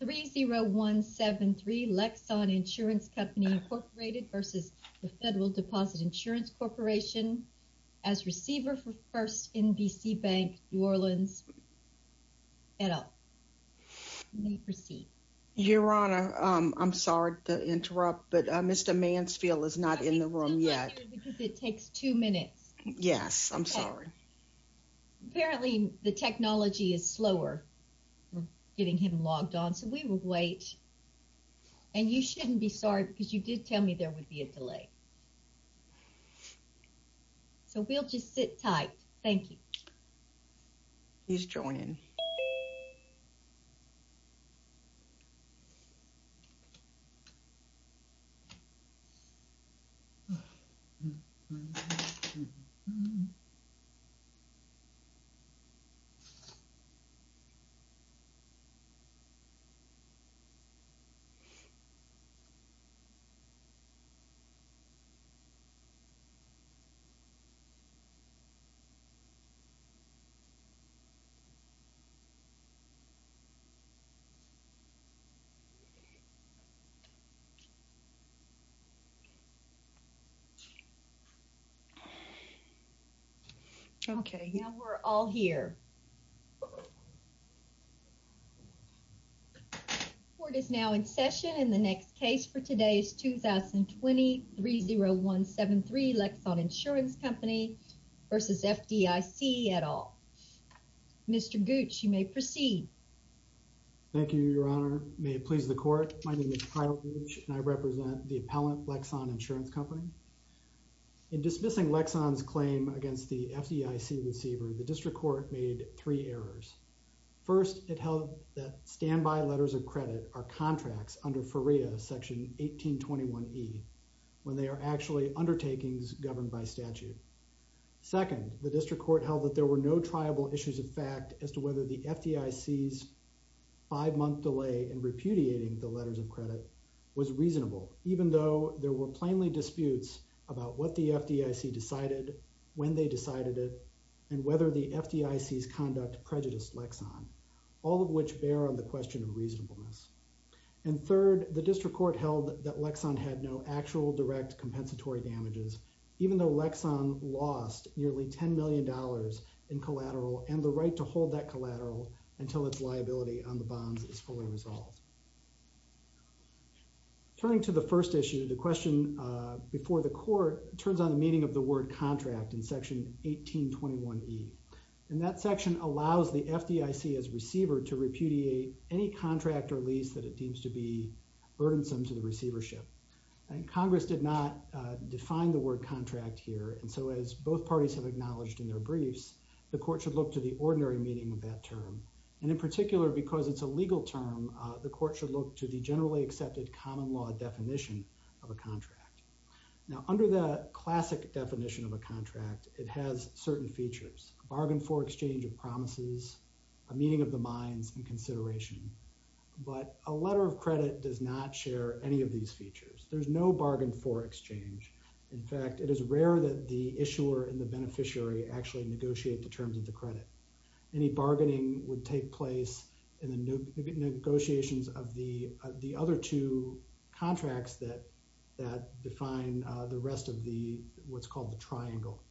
30173 Lexon Insurance Company, Inc v FDIC as receiver for First NBC Bank, New Orleans, et al. You may proceed. Your Honor, I'm sorry to interrupt, but Mr. Mansfield is not in the room yet. It takes two minutes. Yes, I'm sorry. Apparently the technology is slower getting him logged on, so we will wait. And you shouldn't be sorry because you did tell me there would be a delay. So we'll just sit tight. Thank you. Please join in. Okay, now we're all here. The court is now in session and the next case for today is 2020 30173 Lexon Insurance Company versus FDIC et al. Mr. Gooch, you may proceed. Thank you, Your Honor. May it please the court, my name is Kyle Gooch and I represent the appellant Lexon Insurance Company. In dismissing Lexon's claim against the FDIC receiver, the district court made three errors. First, it held that standby letters of credit are contracts under FERIA section 1821E when they are actually undertakings governed by statute. Second, the district court held that there were no triable issues of fact as to whether the FDIC's five-month delay in repudiating the letters of credit was reasonable, even though there were plainly disputes about what the FDIC decided, when they decided it, and whether the FDIC's conduct prejudiced Lexon, all of which bear on the question of reasonableness. And third, the district court held that Lexon had no actual direct compensatory damages, even though Lexon lost nearly $10 million in collateral and the right to hold that collateral until its liability on the bonds is fully resolved. Turning to the first issue, the question before the court turns on the meaning of the word contract in section 1821E, and that section allows the FDIC as receiver to repudiate any contract or lease that it deems to be burdensome to the receivership. And Congress did not define the word contract here, and so as both parties have acknowledged in their briefs, the court should look to the ordinary meaning of that term, and in particular because it's a legal term, the court should look to the generally accepted common law definition of a contract. Now, under the classic definition of a contract, it has certain features, a bargain for exchange of promises, a meeting of the minds, and consideration, but a letter of credit does not share any of these features. There's no bargain for exchange. In fact, it is rare that the issuer and the beneficiary actually negotiate the terms of the credit. Any bargaining would take place in the negotiations of the other two contracts that define the rest of what's called the triangle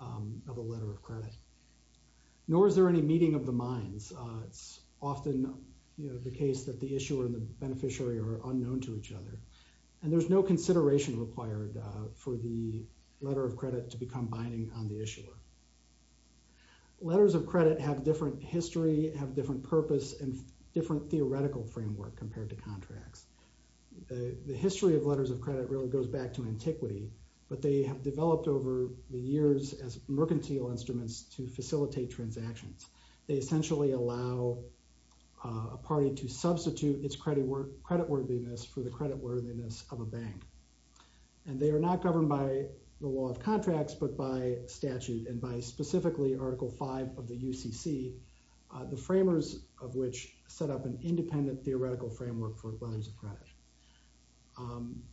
of a letter of credit. Nor is there any meeting of the minds. It's often the case that the issuer and the beneficiary are unknown to each other, and there's no consideration required for the letter of credit. Letters of credit have different history, have different purpose, and different theoretical framework compared to contracts. The history of letters of credit really goes back to antiquity, but they have developed over the years as mercantile instruments to facilitate transactions. They essentially allow a party to substitute its credit worth, credit worthiness for the credit worthiness of a bank, and they are not governed by the law of contracts, but by statute, and by specifically Article V of the UCC, the framers of which set up an independent theoretical framework for letters of credit.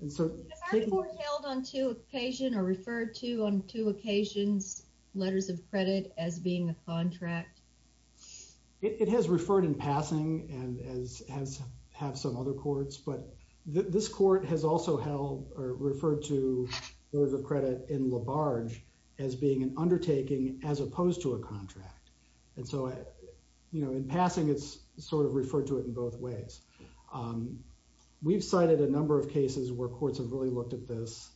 Has Article V held on two occasion or referred to on two occasions letters of credit as being a contract? It has referred in passing and has had some other courts, but this court has also held or referred to letters of credit in LaBarge as being an undertaking as opposed to a contract, and so, you know, in passing it's sort of referred to it in both ways. We've cited a number of cases where courts have really looked at this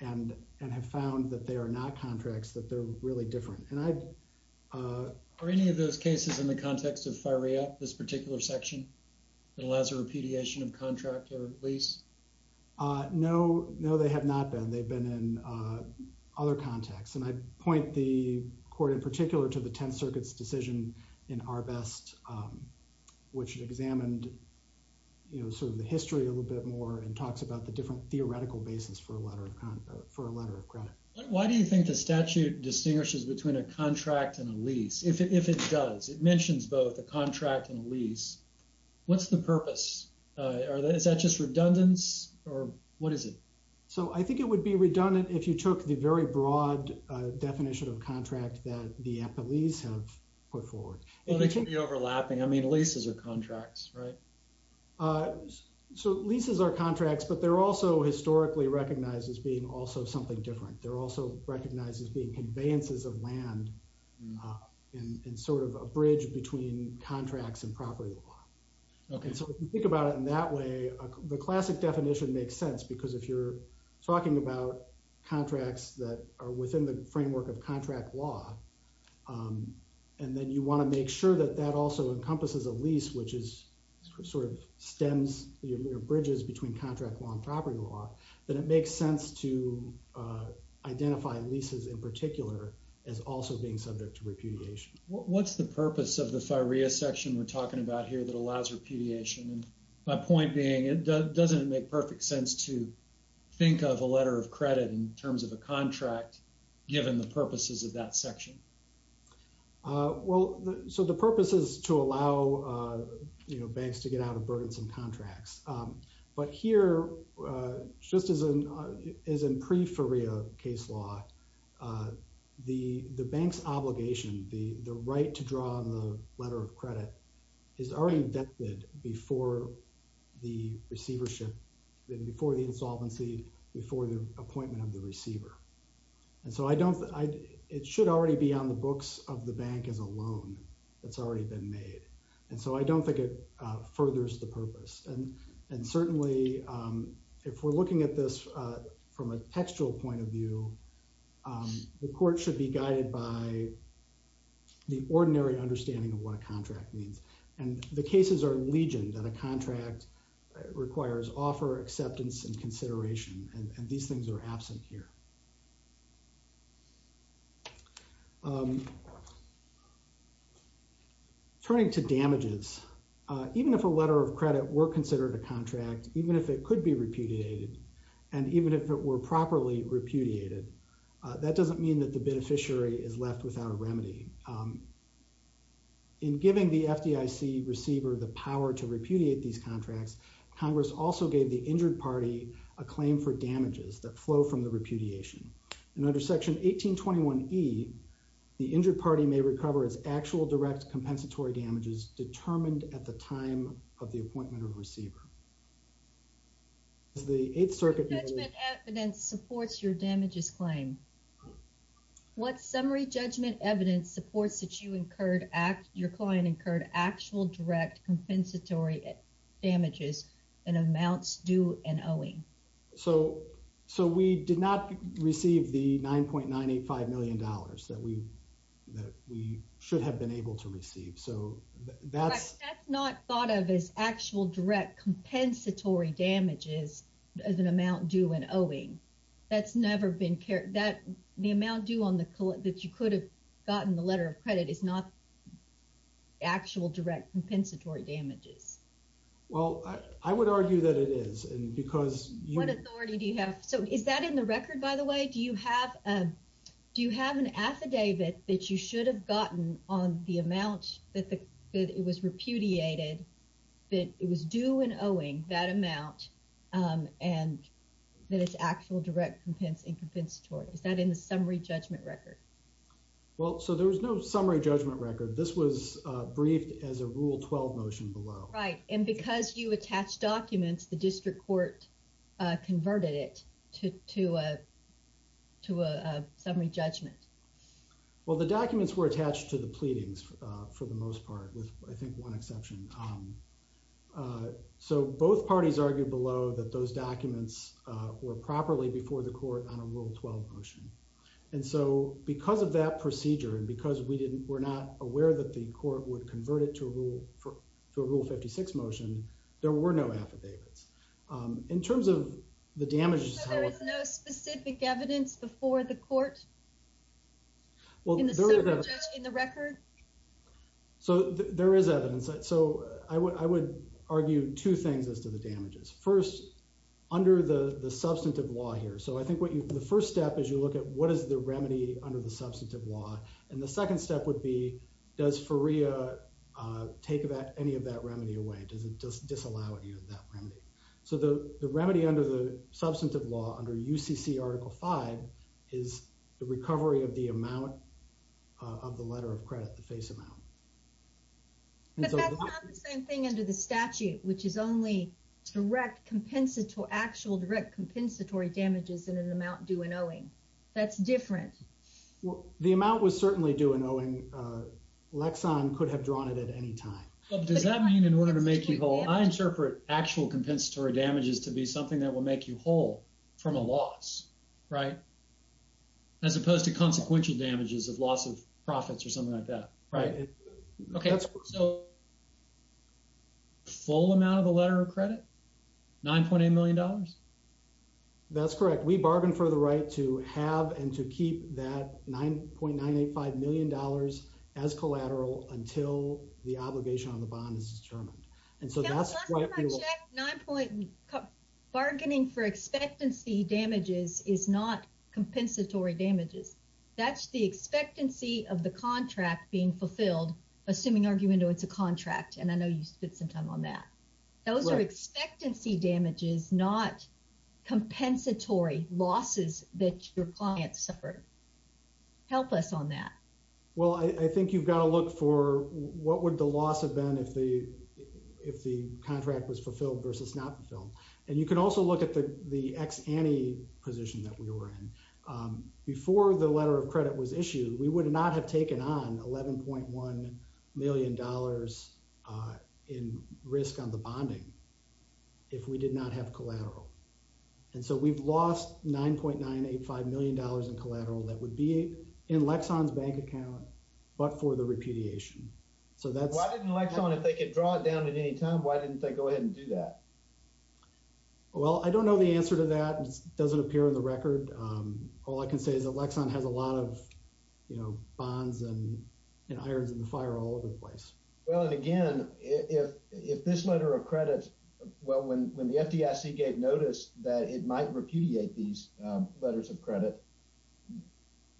and have found that they are not contracts, that they're really different, and I've... Are any of those cases in the context of FIREAT, this particular section, that allows a repudiation of contract or lease? No, no, they have not been. They've been in other contexts, and I point the court in particular to the Tenth Circuit's decision in Arbest, which examined, you know, sort of the history a little bit more and talks about the different theoretical basis for a letter of credit. Why do you think the statute distinguishes between a contract and a lease, if it does? It mentions both a contract and a lease. What's the purpose? Is that just redundance, or what is it? So, I think it would be redundant if you took the broad definition of contract that the appellees have put forward. Well, they can be overlapping. I mean, leases are contracts, right? So, leases are contracts, but they're also historically recognized as being also something different. They're also recognized as being conveyances of land and sort of a bridge between contracts and property law. And so, if you think about it in that way, the classic definition makes sense, because if you're talking about contracts that are within the framework of contract law, and then you want to make sure that that also encompasses a lease, which is sort of stems or bridges between contract law and property law, then it makes sense to identify leases in particular as also being subject to repudiation. What's the purpose of the FIREA section we're talking about here that allows repudiation? And my point being, doesn't it make perfect sense to think of a letter of credit in terms of a contract, given the purposes of that section? Well, so the purpose is to allow banks to get out of burdensome contracts. But here, just as in pre-FIREA case law, the bank's obligation, the right to draw on the letter of credit, is already vetted before the receivership, before the insolvency, before the appointment of the receiver. And so, it should already be on the books of the bank as a loan that's already been made. And so, I don't think it furthers the purpose. And certainly, if we're looking at this from a textual point of view, the court should be guided by the ordinary understanding of what a contract means. And the cases are legion that a contract requires offer, acceptance, and consideration. And these things are absent here. Turning to damages, even if a letter of credit were considered a contract, even if it could be repudiated, and even if it were properly repudiated, that doesn't mean that the beneficiary is left without a remedy. In giving the FDIC receiver the power to repudiate these contracts, Congress also gave the injured party a claim for damages that flow from the repudiation. And under Section 1821E, the injured party may recover its actual direct compensatory damages determined at the time of the appointment of the receiver. As the Eighth Circuit... What judgment evidence supports your damages claim? What summary judgment evidence supports that you incurred, your client incurred, actual direct compensatory damages in amounts due and owing? So, we did not receive the $9.985 million that we should have been able to receive. So, that's... Compensatory damages as an amount due and owing, that's never been... The amount due on the... That you could have gotten the letter of credit is not actual direct compensatory damages. Well, I would argue that it is. And because you... What authority do you have? So, is that in the record, by the way? Do you have... Do you have an affidavit that you should have gotten on the amount that it was repudiated, that it was due and owing that amount, and that it's actual direct compensatory? Is that in the summary judgment record? Well, so there was no summary judgment record. This was briefed as a Rule 12 motion below. Right. And because you attached documents, the district court converted it to a summary judgment. Well, the documents were attached to the pleadings for the most part, with I think one exception. So, both parties argued below that those documents were properly before the court on a Rule 12 motion. And so, because of that procedure and because we didn't... We're not aware that the court would convert it to a Rule 56 motion, there were no affidavits. In terms of the damages... So, there is no specific evidence before the court in the summary judgment? In the record? So, there is evidence. So, I would argue two things as to the damages. First, under the substantive law here. So, I think what you... The first step is you look at what is the remedy under the substantive law. And the second step would be, does FERIA take any of that remedy away? Does it disallow any of that remedy? So, the remedy under the substantive law, under UCC Article 5, is the recovery of the amount of the letter of credit, the face amount. But that's not the same thing under the statute, which is only direct compensatory... Actual direct compensatory damages in an amount due and owing. That's different. Well, the amount was certainly due and owing. Lexxon could have drawn it at any time. Does that mean in order to make you whole? I interpret actual compensatory damages to be right? As opposed to consequential damages of loss of profits or something like that. Right. Okay. So, full amount of the letter of credit? $9.8 million? That's correct. We bargained for the right to have and to keep that $9.985 million as collateral until the obligation on the bond is determined. And so, that's what we will... Bargaining for expectancy damages is not compensatory damages. That's the expectancy of the contract being fulfilled, assuming argument it's a contract. And I know you spent some time on that. Those are expectancy damages, not compensatory losses that your clients suffer. Help us on that. Well, I think you've got to look for what would the loss have been if the contract was fulfilled versus not fulfilled. And you can also look at the ex ante position that we were in. Before the letter of credit was issued, we would not have taken on $11.1 million in risk on the bonding if we did not have collateral. And so, we've lost $9.985 million in collateral that would be in Lexxon's bank account, but for the repudiation. So, that's... Why didn't Lexxon, if they could draw it down at any time, why didn't they go ahead and do that? Well, I don't know the answer to that. It doesn't appear in the record. All I can say is that Lexxon has a lot of bonds and irons in the fire all over the place. Well, and again, if this letter of credit... Well, when the FDIC gave notice that it might repudiate these letters of credit,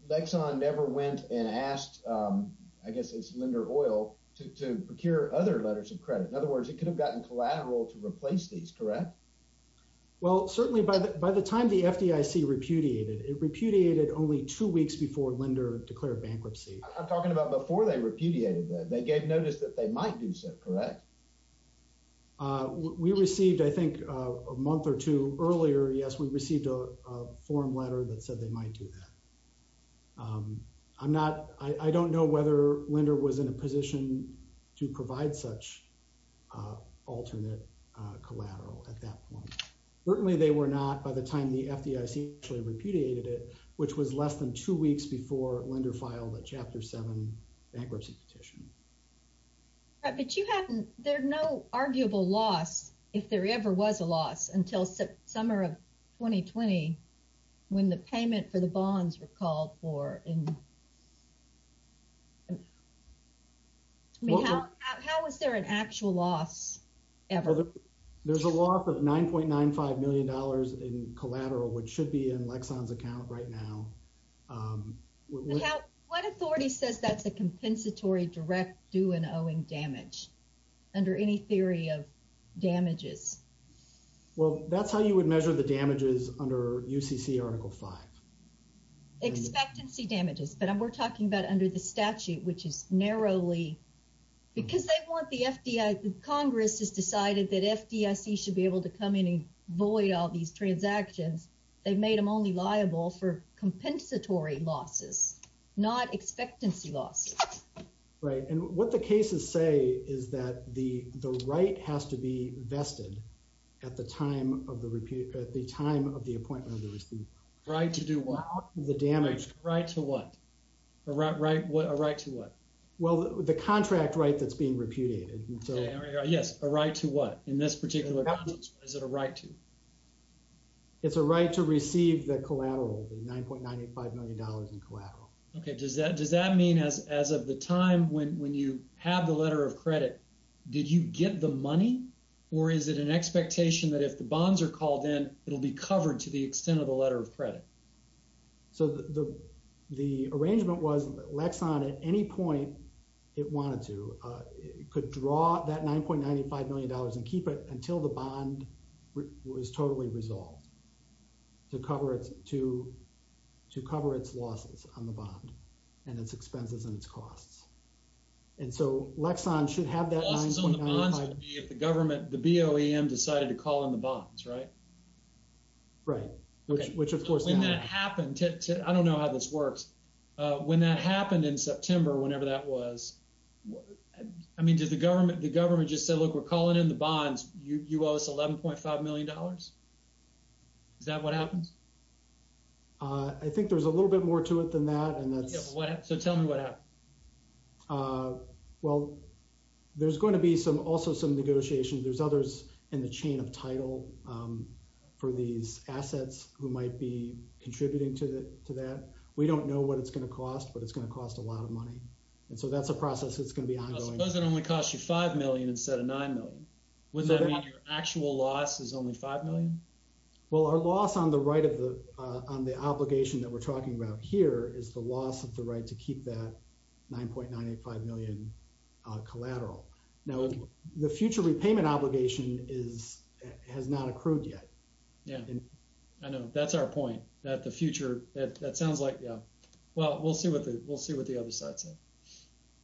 Lexxon never went and asked, I guess it's Lender Oil, to procure other letters of credit. In other words, it could have gotten collateral to replace these, correct? Well, certainly by the time the FDIC repudiated, it repudiated only two weeks before Lender declared bankruptcy. I'm talking about before they repudiated that. They gave notice that they might do so, correct? We received, I think, a month or two earlier, yes, we received a letter that said they might do that. I don't know whether Lender was in a position to provide such alternate collateral at that point. Certainly they were not by the time the FDIC repudiated it, which was less than two weeks before Lender filed a Chapter 7 bankruptcy petition. Right, but you haven't... There are no arguable loss, if there ever was a loss, until summer of 2020, when the payment for the bonds were called for. How was there an actual loss ever? There's a loss of $9.95 million in collateral, which should be in Lexxon's account right now. What authority says that's a compensatory direct due and owing damage, under any theory of damages? Well, that's how you would measure the damages under UCC Article 5. Expectancy damages, but we're talking about under the statute, which is narrowly... Because they want the FDIC... Congress has decided that FDIC should be able to come in and make these transactions. They've made them only liable for compensatory losses, not expectancy losses. Right, and what the cases say is that the right has to be vested at the time of the appointment of the receipt. Right to do what? The damage. Right to what? A right to what? Well, the contract right that's being repudiated. Yes, a right to what? In this particular case, is it a right to? It's a right to receive the collateral, the $9.95 million in collateral. Okay, does that mean as of the time when you have the letter of credit, did you get the money? Or is it an expectation that if the bonds are called in, it'll be covered to the extent of the letter of credit? So the arrangement was Lexxon, at any point it wanted to, could draw that $9.95 million and keep it until the bond was totally resolved to cover its losses on the bond and its expenses and its costs. And so Lexxon should have that... Losses on the bonds would be if the government, the BOEM decided to call in the bonds, right? Right, which of course... When that happened, I don't know how this works, when that happened in September, whenever that was, what... I mean, did the government just say, look, we're calling in the bonds, you owe us $11.5 million? Is that what happens? I think there's a little bit more to it than that. So tell me what happened. Well, there's going to be also some negotiations. There's others in the chain of title for these assets who might be contributing to that. We don't know what it's going to be. I suppose it only costs you $5 million instead of $9 million. Would that mean your actual loss is only $5 million? Well, our loss on the obligation that we're talking about here is the loss of the right to keep that $9.95 million collateral. Now, the future repayment obligation has not accrued yet. Yeah, I know. That's our point, that the other side's in.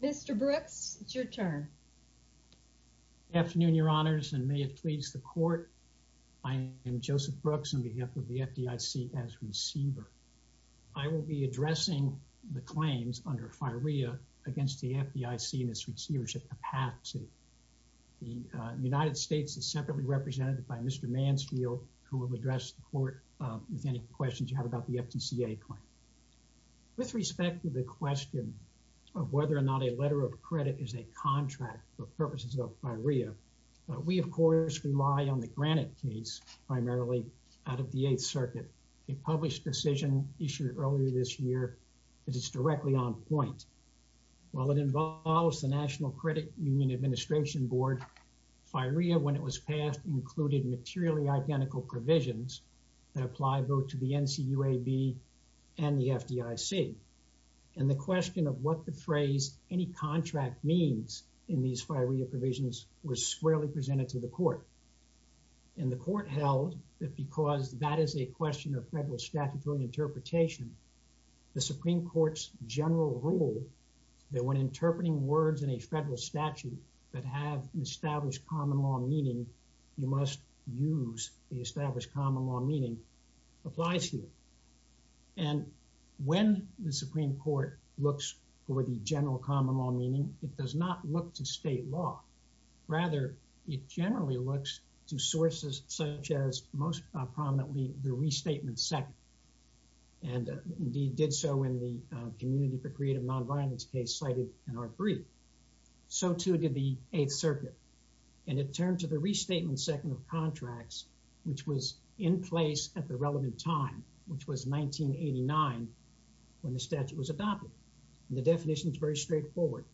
Mr. Brooks, it's your turn. Good afternoon, Your Honors, and may it please the court. I am Joseph Brooks on behalf of the FDIC as receiver. I will be addressing the claims under FIREA against the FDIC and its receivership capacity. The United States is separately represented by Mr. Mansfield, who will address the court with any questions you have the FDICA claim. With respect to the question of whether or not a letter of credit is a contract for purposes of FIREA, we, of course, rely on the Granite case primarily out of the Eighth Circuit, a published decision issued earlier this year that is directly on point. While it involves the National Credit Union Administration Board, FIREA, when it was passed, included materially identical provisions that apply both to the NCUAB and the FDIC. And the question of what the phrase any contract means in these FIREA provisions was squarely presented to the court. And the court held that because that is a question of federal statutory interpretation, the Supreme Court's general rule that when interpreting words in a federal statute that have an established common law meaning, you must use the established common law meaning applies here. And when the Supreme Court looks for the general common law meaning, it does not look to state law. Rather, it generally looks to sources such as most prominently the Restatement Second, and indeed did so in the Community for Creative Nonviolence case cited in our brief. So too did the Eighth Circuit. And it turned to the Restatement Second of contracts, which was in place at the relevant time, which was 1989 when the statute was adopted. The definition is very straightforward.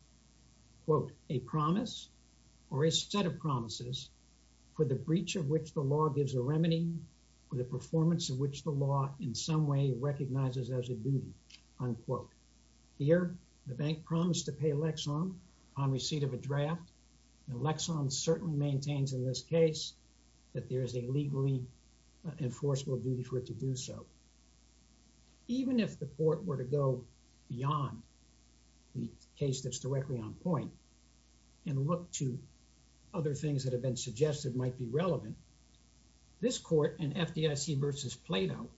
Quote, a promise or a set of promises for the breach of which the law gives a remedy or the performance of which the law in some way recognizes as a duty. Unquote. Here, the bank promised to pay Lexon on receipt of a draft. And Lexon certainly maintains in this case that there is a legally enforceable duty for it to do so. Even if the court were to go beyond the case that's directly on point and look to other things that have been suggested might be relevant, this court in FDIC versus Plato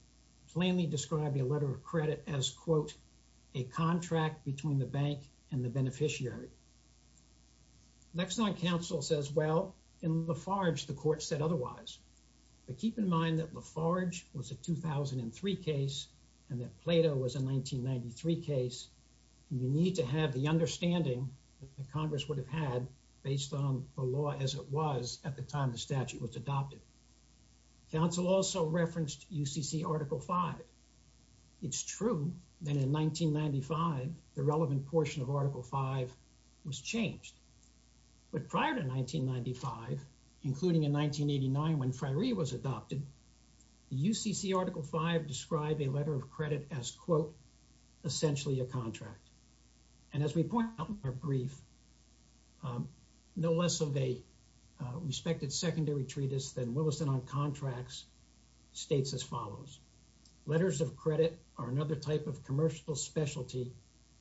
plainly described a letter of credit as, quote, a contract between the bank and the beneficiary. Lexon counsel says, well, in Lafarge the court said otherwise. But keep in mind that Lafarge was a 2003 case and that Plato was a 1993 case. You need to have the understanding that Congress would have had based on the law as it was at the time the statute was adopted. Counsel also referenced UCC Article V. It's true that in 1995 the relevant portion of Article V was changed. But prior to 1995, including in 1989 when FIREE was adopted, the UCC Article V described a essentially a contract. And as we point out in our brief, no less of a respected secondary treatise than Williston on contracts states as follows. Letters of credit are another type of commercial specialty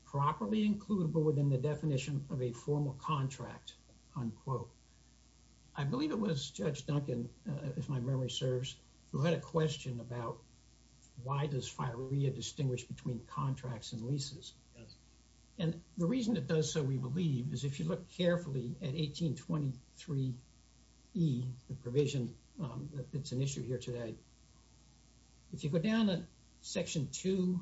properly includable within the definition of a formal contract, unquote. I believe it was distinguished between contracts and leases. And the reason it does so, we believe, is if you look carefully at 1823E, the provision that's an issue here today, if you go down to Section 2,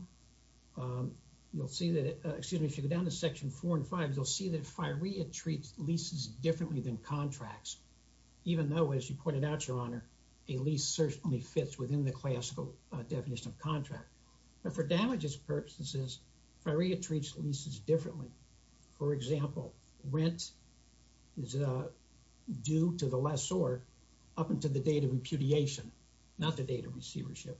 you'll see that, excuse me, if you go down to Section 4 and 5, you'll see that FIREE treats leases differently than contracts, even though, as you pointed out, Your Honor, a lease certainly within the classical definition of contract. But for damages purposes, FIREE treats leases differently. For example, rent is due to the lessor up until the date of impudiation, not the date of receivership.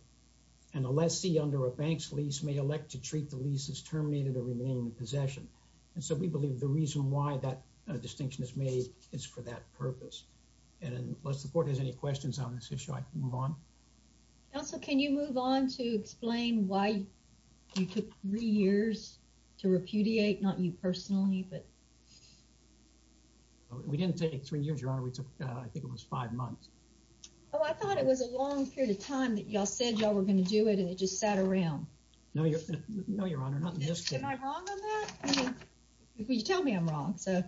And a lessee under a bank's lease may elect to treat the lease as terminated or remaining in possession. And so we believe the reason why that distinction is made is for that purpose. And unless the Court has any questions on this issue, I can move on. Counsel, can you move on to explain why you took three years to repudiate? Not you personally, but... We didn't take three years, Your Honor. We took, I think it was five months. Oh, I thought it was a long period of time that y'all said y'all were going to do it, and it just sat around. No, Your Honor, not in this case. Am I wrong on that? You tell me I'm wrong, so...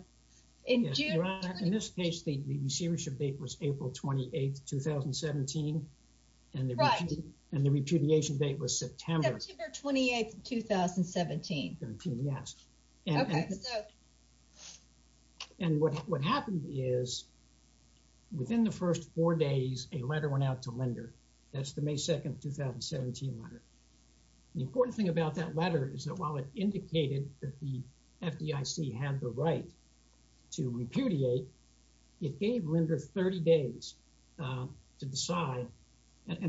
In this case, the receivership date was April 28th, 2017. And the repudiation date was September 28th, 2017. And what happened is within the first four days, a letter went out to Linder. That's the May 2nd, 2017 letter. The important thing about that letter is that while it indicated that the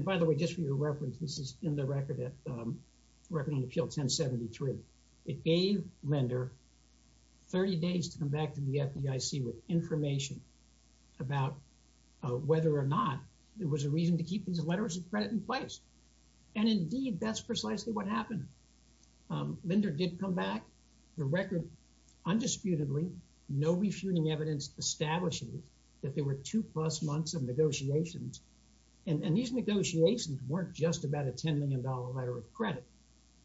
by the way, just for your reference, this is in the Record on Appeal 1073. It gave Linder 30 days to come back to the FDIC with information about whether or not there was a reason to keep these letters of credit in place. And indeed, that's precisely what happened. Linder did come back. The Record, undisputedly, no refuting evidence establishes that there were two-plus months of negotiations. And these negotiations weren't just about a $10 million letter of credit,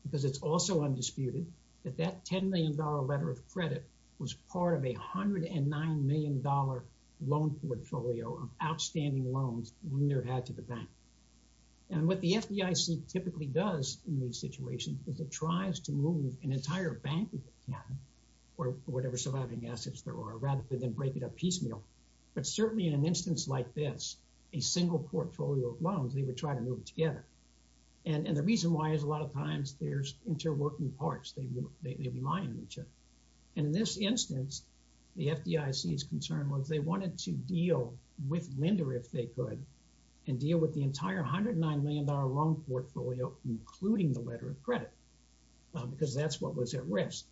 because it's also undisputed that that $10 million letter of credit was part of a $109 million loan portfolio of outstanding loans Linder had to the bank. And what the FDIC typically does in these situations is it tries to move an entire bank, if it can, or whatever surviving assets there are, rather than break it up piecemeal. But certainly in an instance like this, a single portfolio of loans, they would try to move together. And the reason why is a lot of times there's interworking parts. They rely on each other. And in this instance, the FDIC's concern was they wanted to deal with Linder if they could, and deal with the entire $109 million loan portfolio, including the letter of credit, because that's what was at risk.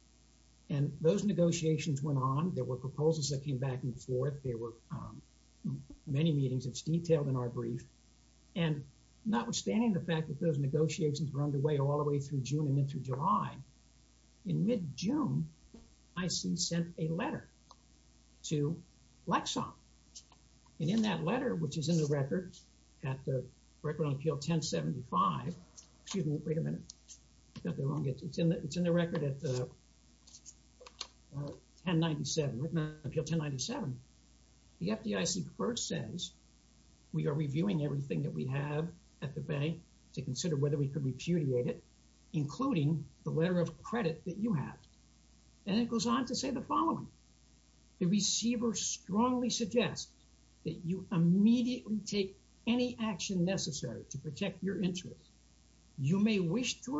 And those negotiations went on. There were proposals that came back and forth. There were many meetings. It's detailed in our brief. And notwithstanding the fact that those negotiations were underway all the way through June and then through July, in mid-June, IC sent a letter to Lexon. And in that letter, which is in the record at the Record on Appeal 1075, excuse me, wait a minute, I got that wrong. It's in the record at 1097, written on Appeal 1097. The FDIC first says, we are reviewing everything that we have at the bank to consider whether we could repudiate it, including the letter of credit that you have. And it goes on to say the following. The receiver strongly suggests that you immediately take any action necessary to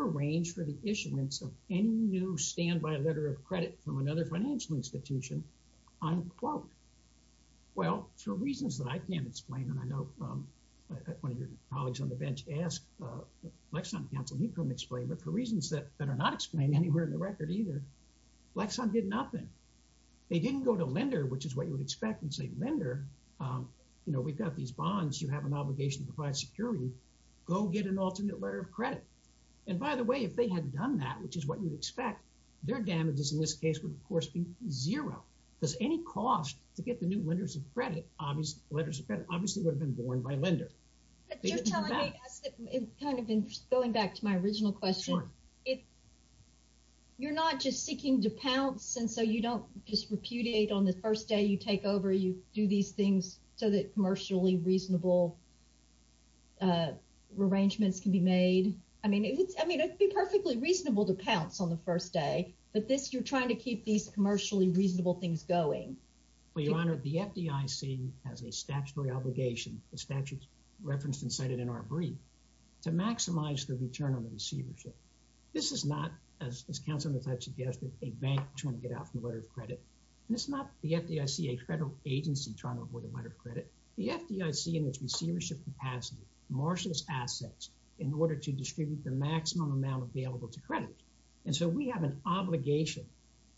arrange for the issuance of any new standby letter of credit from another financial institution, unquote. Well, for reasons that I can't explain, and I know one of your colleagues on the bench asked Lexon counsel, he couldn't explain, but for reasons that are not explained anywhere in the record either, Lexon did nothing. They didn't go to Linder, which is what you would expect, and say, Linder, you know, we've got these bonds. You have an obligation to provide security. Go get an alternate letter of credit. And by the way, if they had done that, which is what you'd expect, their damages in this case would, of course, be zero, because any cost to get the new letters of credit obviously would have been borne by Linder. It kind of, going back to my original question, you're not just seeking to pounce, and so you don't just repudiate on the first day you take over, you do these things so that commercially reasonable arrangements can be made. I mean, it's, I mean, it'd be perfectly reasonable to pounce on the first day, but this, you're trying to keep these commercially reasonable things going. Well, Your Honor, the FDIC has a statutory obligation, the statute's referenced and cited in our brief, to maximize the return on the receivership. This is not, as counsel has suggested, a bank trying to get out from the letter of credit, and it's not the FDIC, a federal agency, trying to avoid a letter of credit. The FDIC, in its receivership capacity, marshals assets in order to distribute the maximum amount available to credit. And so we have an obligation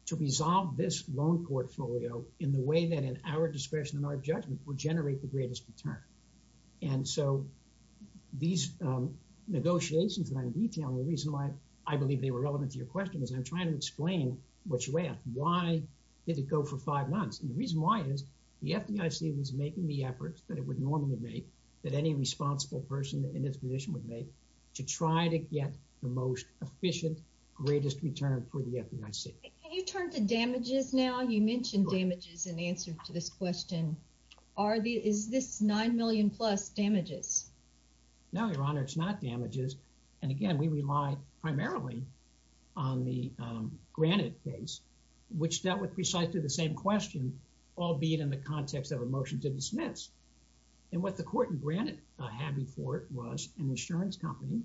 to resolve this loan portfolio in the way that, in our discretion and our judgment, will generate the greatest return. And so these negotiations that I'm detailing, the reason why I believe they were relevant to your question is I'm trying to explain what you asked. Why did it go for five months? And the reason why is the FDIC was making the efforts that it would normally make, that any responsible person in this position would make, to try to get the most efficient, greatest return for the FDIC. Can you turn to damages now? You mentioned damages in answer to this question. Are the, is this nine million plus damages? No, Your Honor, it's not damages. And again, we rely primarily on the, um, Granite case, which dealt with precisely the same question, albeit in the context of a motion to dismiss. And what the court in Granite, uh, had before it was an insurance company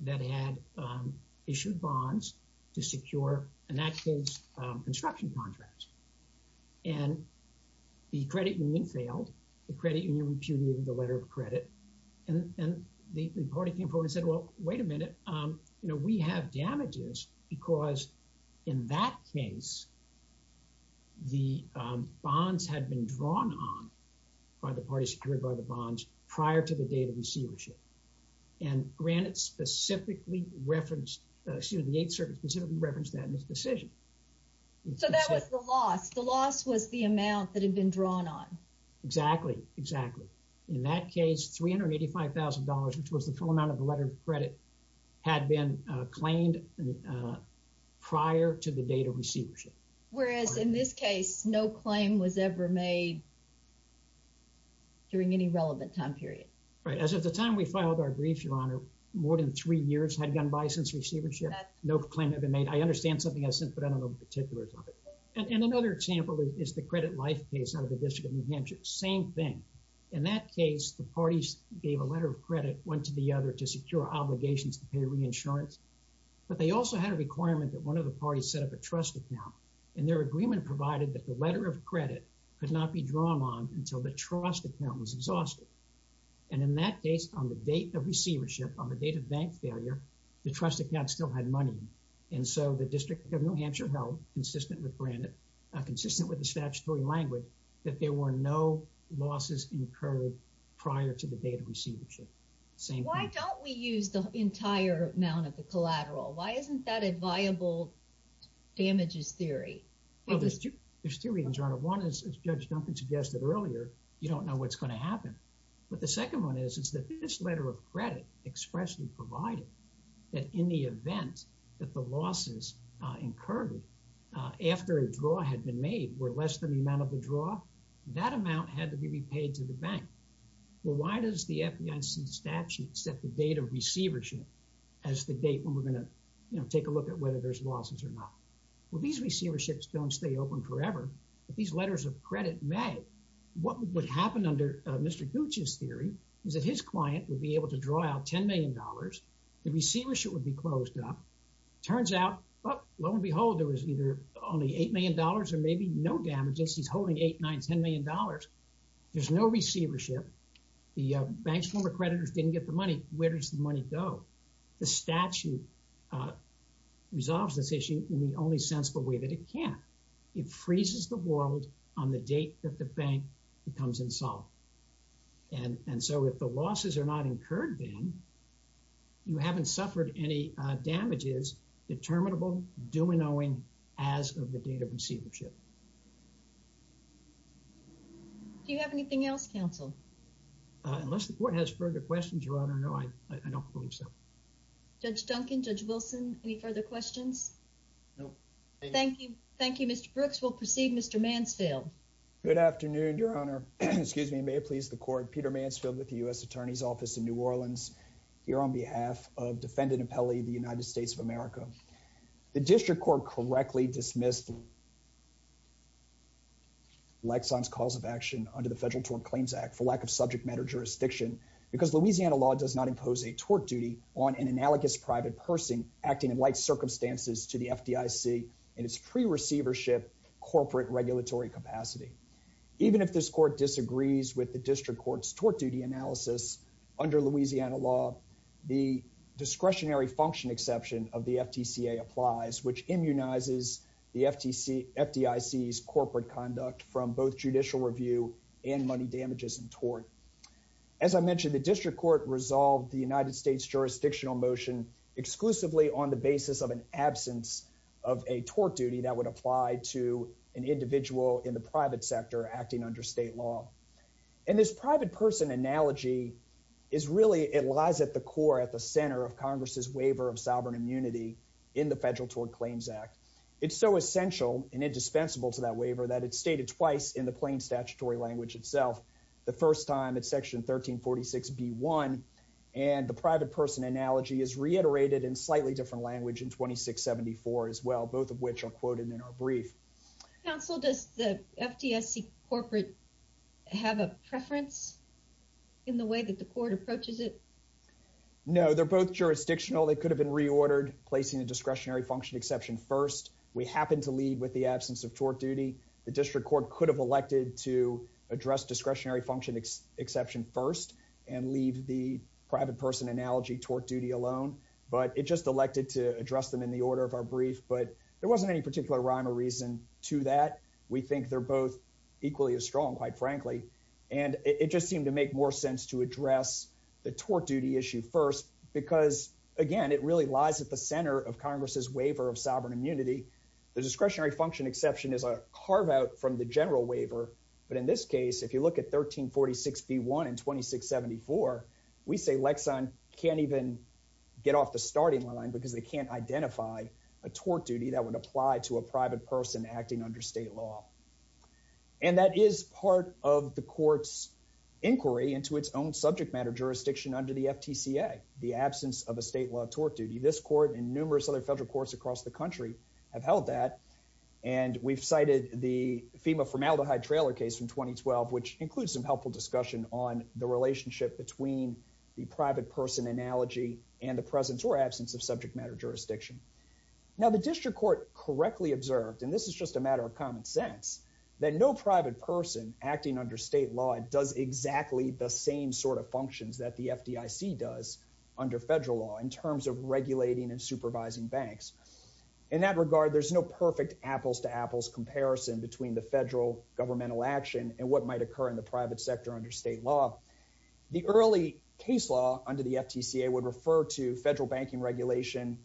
that had, um, issued bonds to secure an active, um, construction contract. And the credit union failed. The and the party came forward and said, well, wait a minute. Um, you know, we have damages because in that case, the, um, bonds had been drawn on by the party secured by the bonds prior to the date of receivership. And Granite specifically referenced, uh, excuse me, the 8th Circuit specifically referenced that in its decision. So that was the loss. The loss was the amount that had been drawn on. Exactly. Exactly. In that case, $385,000, which was the full amount of the letter of credit had been, uh, claimed, uh, prior to the date of receivership. Whereas in this case, no claim was ever made during any relevant time period. Right. As of the time we filed our brief, Your Honor, more than three years had gone by since receivership. No claim had been made. I understand something I said, but I don't know the particulars of it. And another example is the credit life case out of the District of New Hampshire. Same thing. In that case, the parties gave a letter of credit one to the other to secure obligations to pay reinsurance. But they also had a requirement that one of the parties set up a trust account. And their agreement provided that the letter of credit could not be drawn on until the trust account was exhausted. And in that case, on the date of receivership, on the date of bank failure, the trust account still had money. And so, the District of New Hampshire held, consistent with Brandon, uh, consistent with the statutory language, that there were no losses incurred prior to the date of receivership. Same thing. Why don't we use the entire amount of the collateral? Why isn't that a viable damages theory? Well, there's two reasons, Your Honor. One is, as Judge Duncan suggested earlier, you don't know what's going to happen. But the second one is, is that this letter of credit expressly provided that in the event that the losses, uh, incurred, uh, after a draw had been made were less than the amount of the draw, that amount had to be repaid to the bank. Well, why does the FDIC statute set the date of receivership as the date when we're going to, you know, take a look at whether there's losses or not? Well, these receiverships don't stay open forever. But these letters of credit may. What would happen under, uh, Mr. Gooch's theory is that his client would be able to draw out $10 million. The receivership would be closed up. Turns out, well, lo and behold, there was either only $8 million or maybe no damages. He's holding eight, nine, $10 million. There's no receivership. The bank's former creditors didn't get the money. Where does the money go? The statute, uh, resolves this issue in the only sensible way that it can. It freezes the world on the date that the bank becomes insolvent. And, and so if the losses are not incurred then, you haven't suffered any, uh, damages, determinable due and owing as of the date of receivership. Do you have anything else, counsel? Unless the court has further questions, Your Honor, no, I, I don't believe so. Judge Duncan, Judge Wilson, any further questions? No. Thank you. Thank you, Mr. Brooks. We'll proceed. Mr. Mansfield. Good afternoon, Your Honor. Excuse me. May it please the court. Peter Mansfield with the U.S. Attorney's Office in New Orleans here on behalf of Defendant Apelli, the United States of America. The District Court correctly dismissed Lexon's cause of action under the Federal Tort Claims Act for lack of subject matter jurisdiction because Louisiana law does not impose a tort duty on an analogous private person acting in light circumstances to the FDIC in its pre-receivership corporate regulatory capacity. Even if this court disagrees with the District Court's tort duty analysis under Louisiana law, the discretionary function exception of the FTCA applies, which immunizes the FTC, FDIC's tort. As I mentioned, the District Court resolved the United States jurisdictional motion exclusively on the basis of an absence of a tort duty that would apply to an individual in the private sector acting under state law. And this private person analogy is really, it lies at the core, at the center of Congress's waiver of sovereign immunity in the Federal Tort Claims Act. It's so essential and indispensable to that waiver that it's stated twice in the plain statutory language itself. The first time it's section 1346b1, and the private person analogy is reiterated in slightly different language in 2674 as well, both of which are quoted in our brief. Counsel, does the FDIC corporate have a preference in the way that the court approaches it? No, they're both jurisdictional. They could have been reordered, placing the discretionary function exception first. We happen to lead with the absence of tort duty. The District Court could have elected to address discretionary function exception first and leave the private person analogy tort duty alone, but it just elected to address them in the order of our brief. But there wasn't any particular rhyme or reason to that. We think they're both equally as strong, quite frankly. And it just seemed to make more sense to address the tort duty issue first, because again, it really lies at the center of Congress's waiver of sovereign immunity. The discretionary function exception is a carve-out from the general waiver, but in this case, if you look at 1346b1 and 2674, we say Lexon can't even get off the starting line because they can't identify a tort duty that would apply to a private person acting under state law. And that is part of the court's inquiry into its own subject matter jurisdiction under the FTCA, the absence of a state law tort duty. This court and numerous other federal courts across the world have held that. And we've cited the FEMA formaldehyde trailer case from 2012, which includes some helpful discussion on the relationship between the private person analogy and the presence or absence of subject matter jurisdiction. Now, the District Court correctly observed, and this is just a matter of common sense, that no private person acting under state law does exactly the same sort of functions that the FDIC does under federal law in terms of regulating and perfect apples-to-apples comparison between the federal governmental action and what might occur in the private sector under state law. The early case law under the FTCA would refer to federal banking regulation,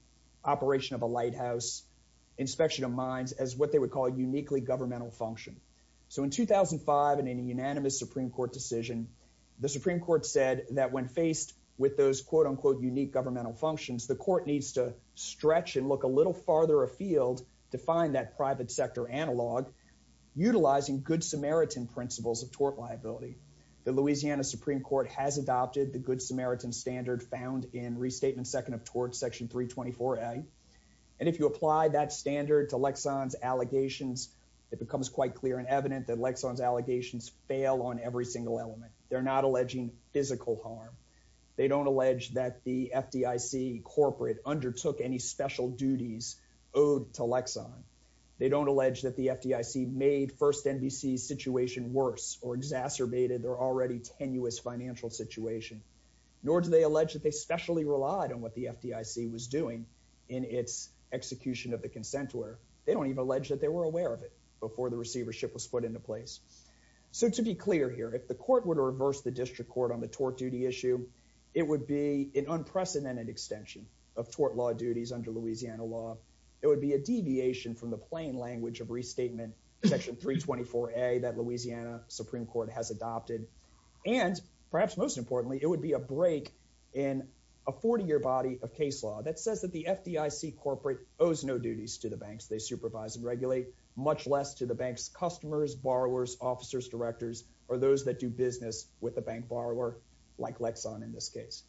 operation of a lighthouse, inspection of mines as what they would call uniquely governmental function. So in 2005, in a unanimous Supreme Court decision, the Supreme Court said that when faced with those quote-unquote unique governmental functions, the court needs to stretch and look a little farther afield to find that private sector analog utilizing good Samaritan principles of tort liability. The Louisiana Supreme Court has adopted the good Samaritan standard found in Restatement Second of Tort, Section 324a. And if you apply that standard to Lexon's allegations, it becomes quite clear and evident that Lexon's allegations fail on every single element. They're not alleging physical harm. They don't allege that the FDIC corporate undertook any special duties owed to Lexon. They don't allege that the FDIC made FirstNBC's situation worse or exacerbated their already tenuous financial situation. Nor do they allege that they specially relied on what the FDIC was doing in its execution of the consent order. They don't even allege that they were aware of it before the receivership was put into place. So to be clear here, if the court were to reverse the district court on the tort duty issue, it would be an unprecedented extension of tort law duties under Louisiana law. It would be a deviation from the plain language of Restatement Section 324a that Louisiana Supreme Court has adopted. And perhaps most importantly, it would be a break in a 40-year body of case law that says that the FDIC corporate owes no duties to the banks they supervise and regulate, much less to the bank's customers, borrowers, officers, directors, or those that do business with the bank borrower, like Lexon in this case.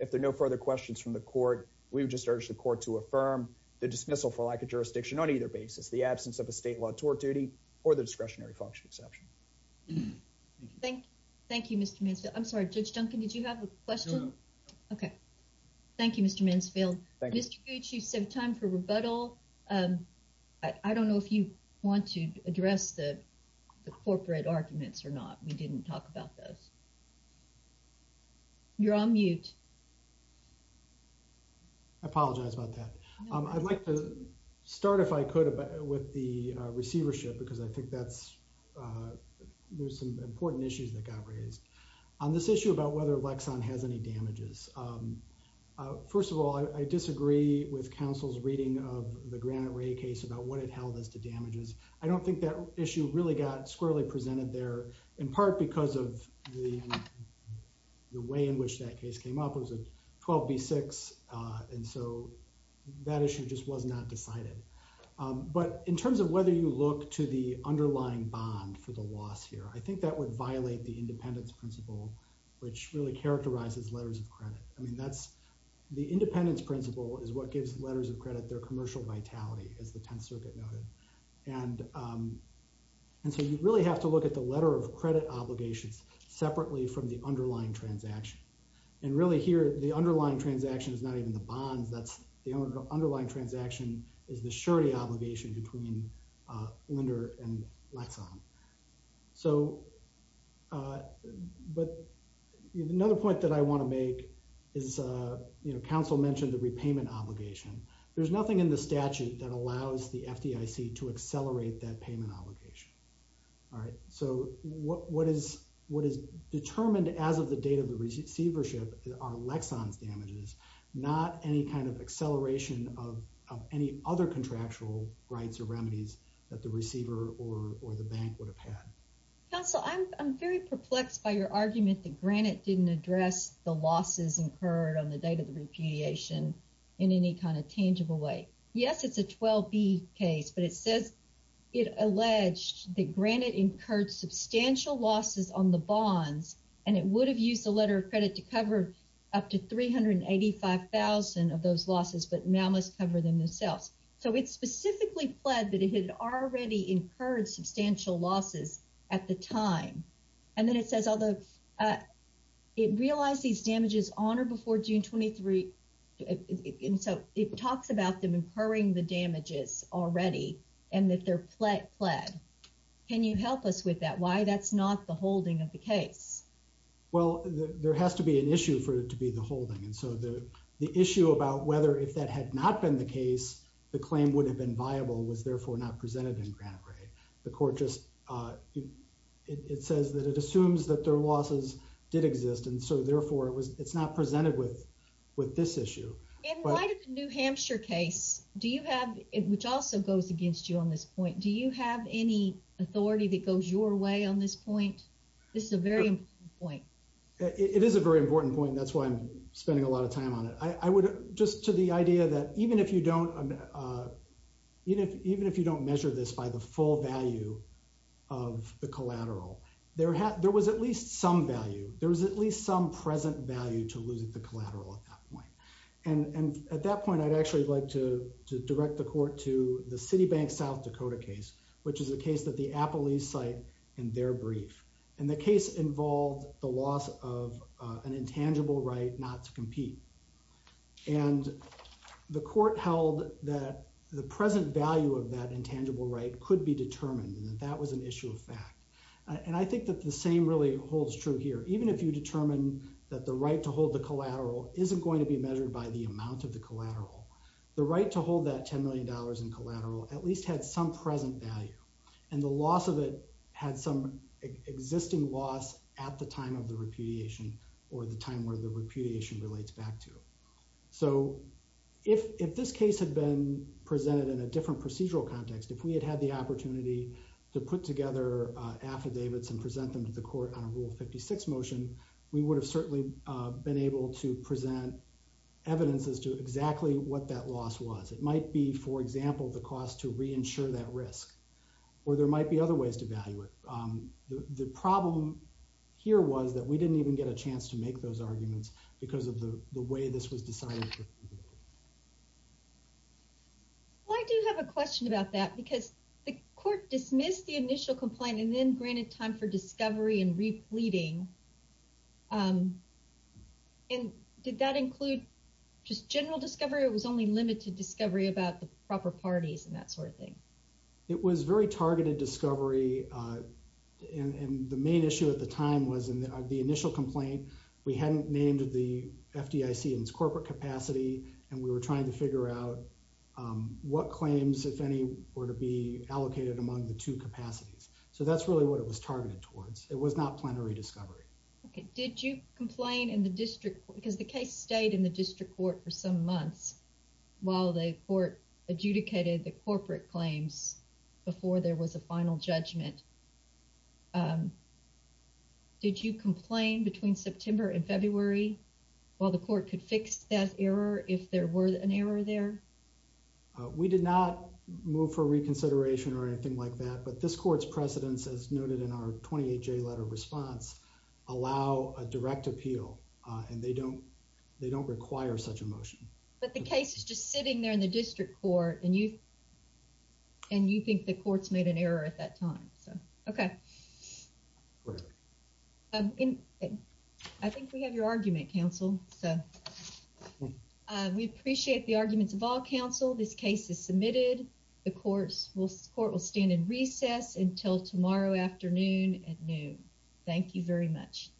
If there are no further questions from the court, we would just urge the court to affirm the dismissal for lack of jurisdiction on either basis, the absence of a state law tort duty, or the discretionary function exception. Thank you, Mr. Mansfield. I'm sorry, Judge Duncan, did you have a question? Okay, thank you, Mr. Mansfield. Mr. Gooch, you said time for rebuttal. I don't know if you want to address the corporate arguments or not. We didn't talk about those. You're on mute. I apologize about that. I'd like to start, if I could, with the receivership because I think that's there's some important issues that got raised on this issue about whether Lexon has any damages. First of all, I disagree with counsel's reading of the Granite Ray case about what it held as damages. I don't think that issue really got squarely presented there in part because of the way in which that case came up. It was a 12B6, and so that issue just was not decided. But in terms of whether you look to the underlying bond for the loss here, I think that would violate the independence principle, which really characterizes letters of credit. I mean, the independence principle is what gives letters of credit their commercial vitality, as the Tenth Circuit noted. And so you really have to look at the letter of credit obligations separately from the underlying transaction. And really here, the underlying transaction is not even the bonds. The underlying transaction is the surety obligation between lender and Lexon. But another point that I want to make is counsel mentioned the repayment obligation. There's nothing in the statute that allows the FDIC to accelerate that payment obligation. All right. So what is determined as of the date of the receivership are Lexon's damages, not any kind of acceleration of any other contractual rights or remedies that the receiver or the bank would have had. Counsel, I'm very perplexed by your argument that Granite didn't address the losses incurred on the repudiation in any kind of tangible way. Yes, it's a 12B case, but it says it alleged that Granite incurred substantial losses on the bonds, and it would have used the letter of credit to cover up to 385,000 of those losses, but now must cover them themselves. So it's specifically pled that it had already incurred substantial losses at the time. And then it says, although it realized these damages on or before June 23, and so it talks about them incurring the damages already, and that they're pled. Can you help us with that? Why that's not the holding of the case? Well, there has to be an issue for it to be the holding. And so the issue about whether if that had not been the case, the claim would have been viable was therefore not presented in Granite. The court just, it says that it assumes that their losses did exist, and so therefore it's not presented with this issue. And why did the New Hampshire case, which also goes against you on this point, do you have any authority that goes your way on this point? This is a very important point. It is a very important point. That's why I'm spending a lot of time on it. I would, just to the idea that even if you don't, even if you don't measure this by the full value of the collateral, there was at least some value. There was at least some present value to losing the collateral at that point. And at that point, I'd actually like to direct the court to the City Bank South Dakota case, which is a case that the Apple East site in their brief. And the case involved the loss of an intangible right not to compete. And the court held that the present value of that intangible right could be determined, and that that was an issue of fact. And I think that the same really holds true here. Even if you determine that the right to hold the collateral isn't going to be measured by the amount of the collateral, the right to hold that $10 million in collateral at least had some present value. And the loss of it had some existing loss at the time of the repudiation or the time where the repudiation relates back to. So, if this case had been presented in a different procedural context, if we had had the opportunity to put together affidavits and present them to the court on a Rule 56 motion, we would have certainly been able to present evidence as to exactly what that loss was. It might be, for example, the cost to re-insure that risk, or there might be other ways to value it. The problem here was that we didn't even get a chance to make those arguments because of the way this was decided. Well, I do have a question about that because the court dismissed the initial complaint and then granted time for discovery and re-pleading. Did that include just general discovery or was only limited discovery about the proper parties and that sort of thing? It was very targeted discovery and the main issue at the time was in the initial complaint, we hadn't named the FDIC in its corporate capacity and we were trying to figure out what claims, if any, were to be targeted towards. It was not plenary discovery. Okay, did you complain in the district because the case stayed in the district court for some months while the court adjudicated the corporate claims before there was a final judgment. Did you complain between September and February while the court could fix that error if there were an error there? We did not move for reconsideration or anything like that, but this court's precedents, as noted in our 28-J letter response, allow a direct appeal and they don't require such a motion. But the case is just sitting there in the district court and you think the court's made an error at that time. I think we have your argument, counsel. We appreciate the arguments of all counsel. This court will stand in recess until tomorrow afternoon at noon. Thank you very much.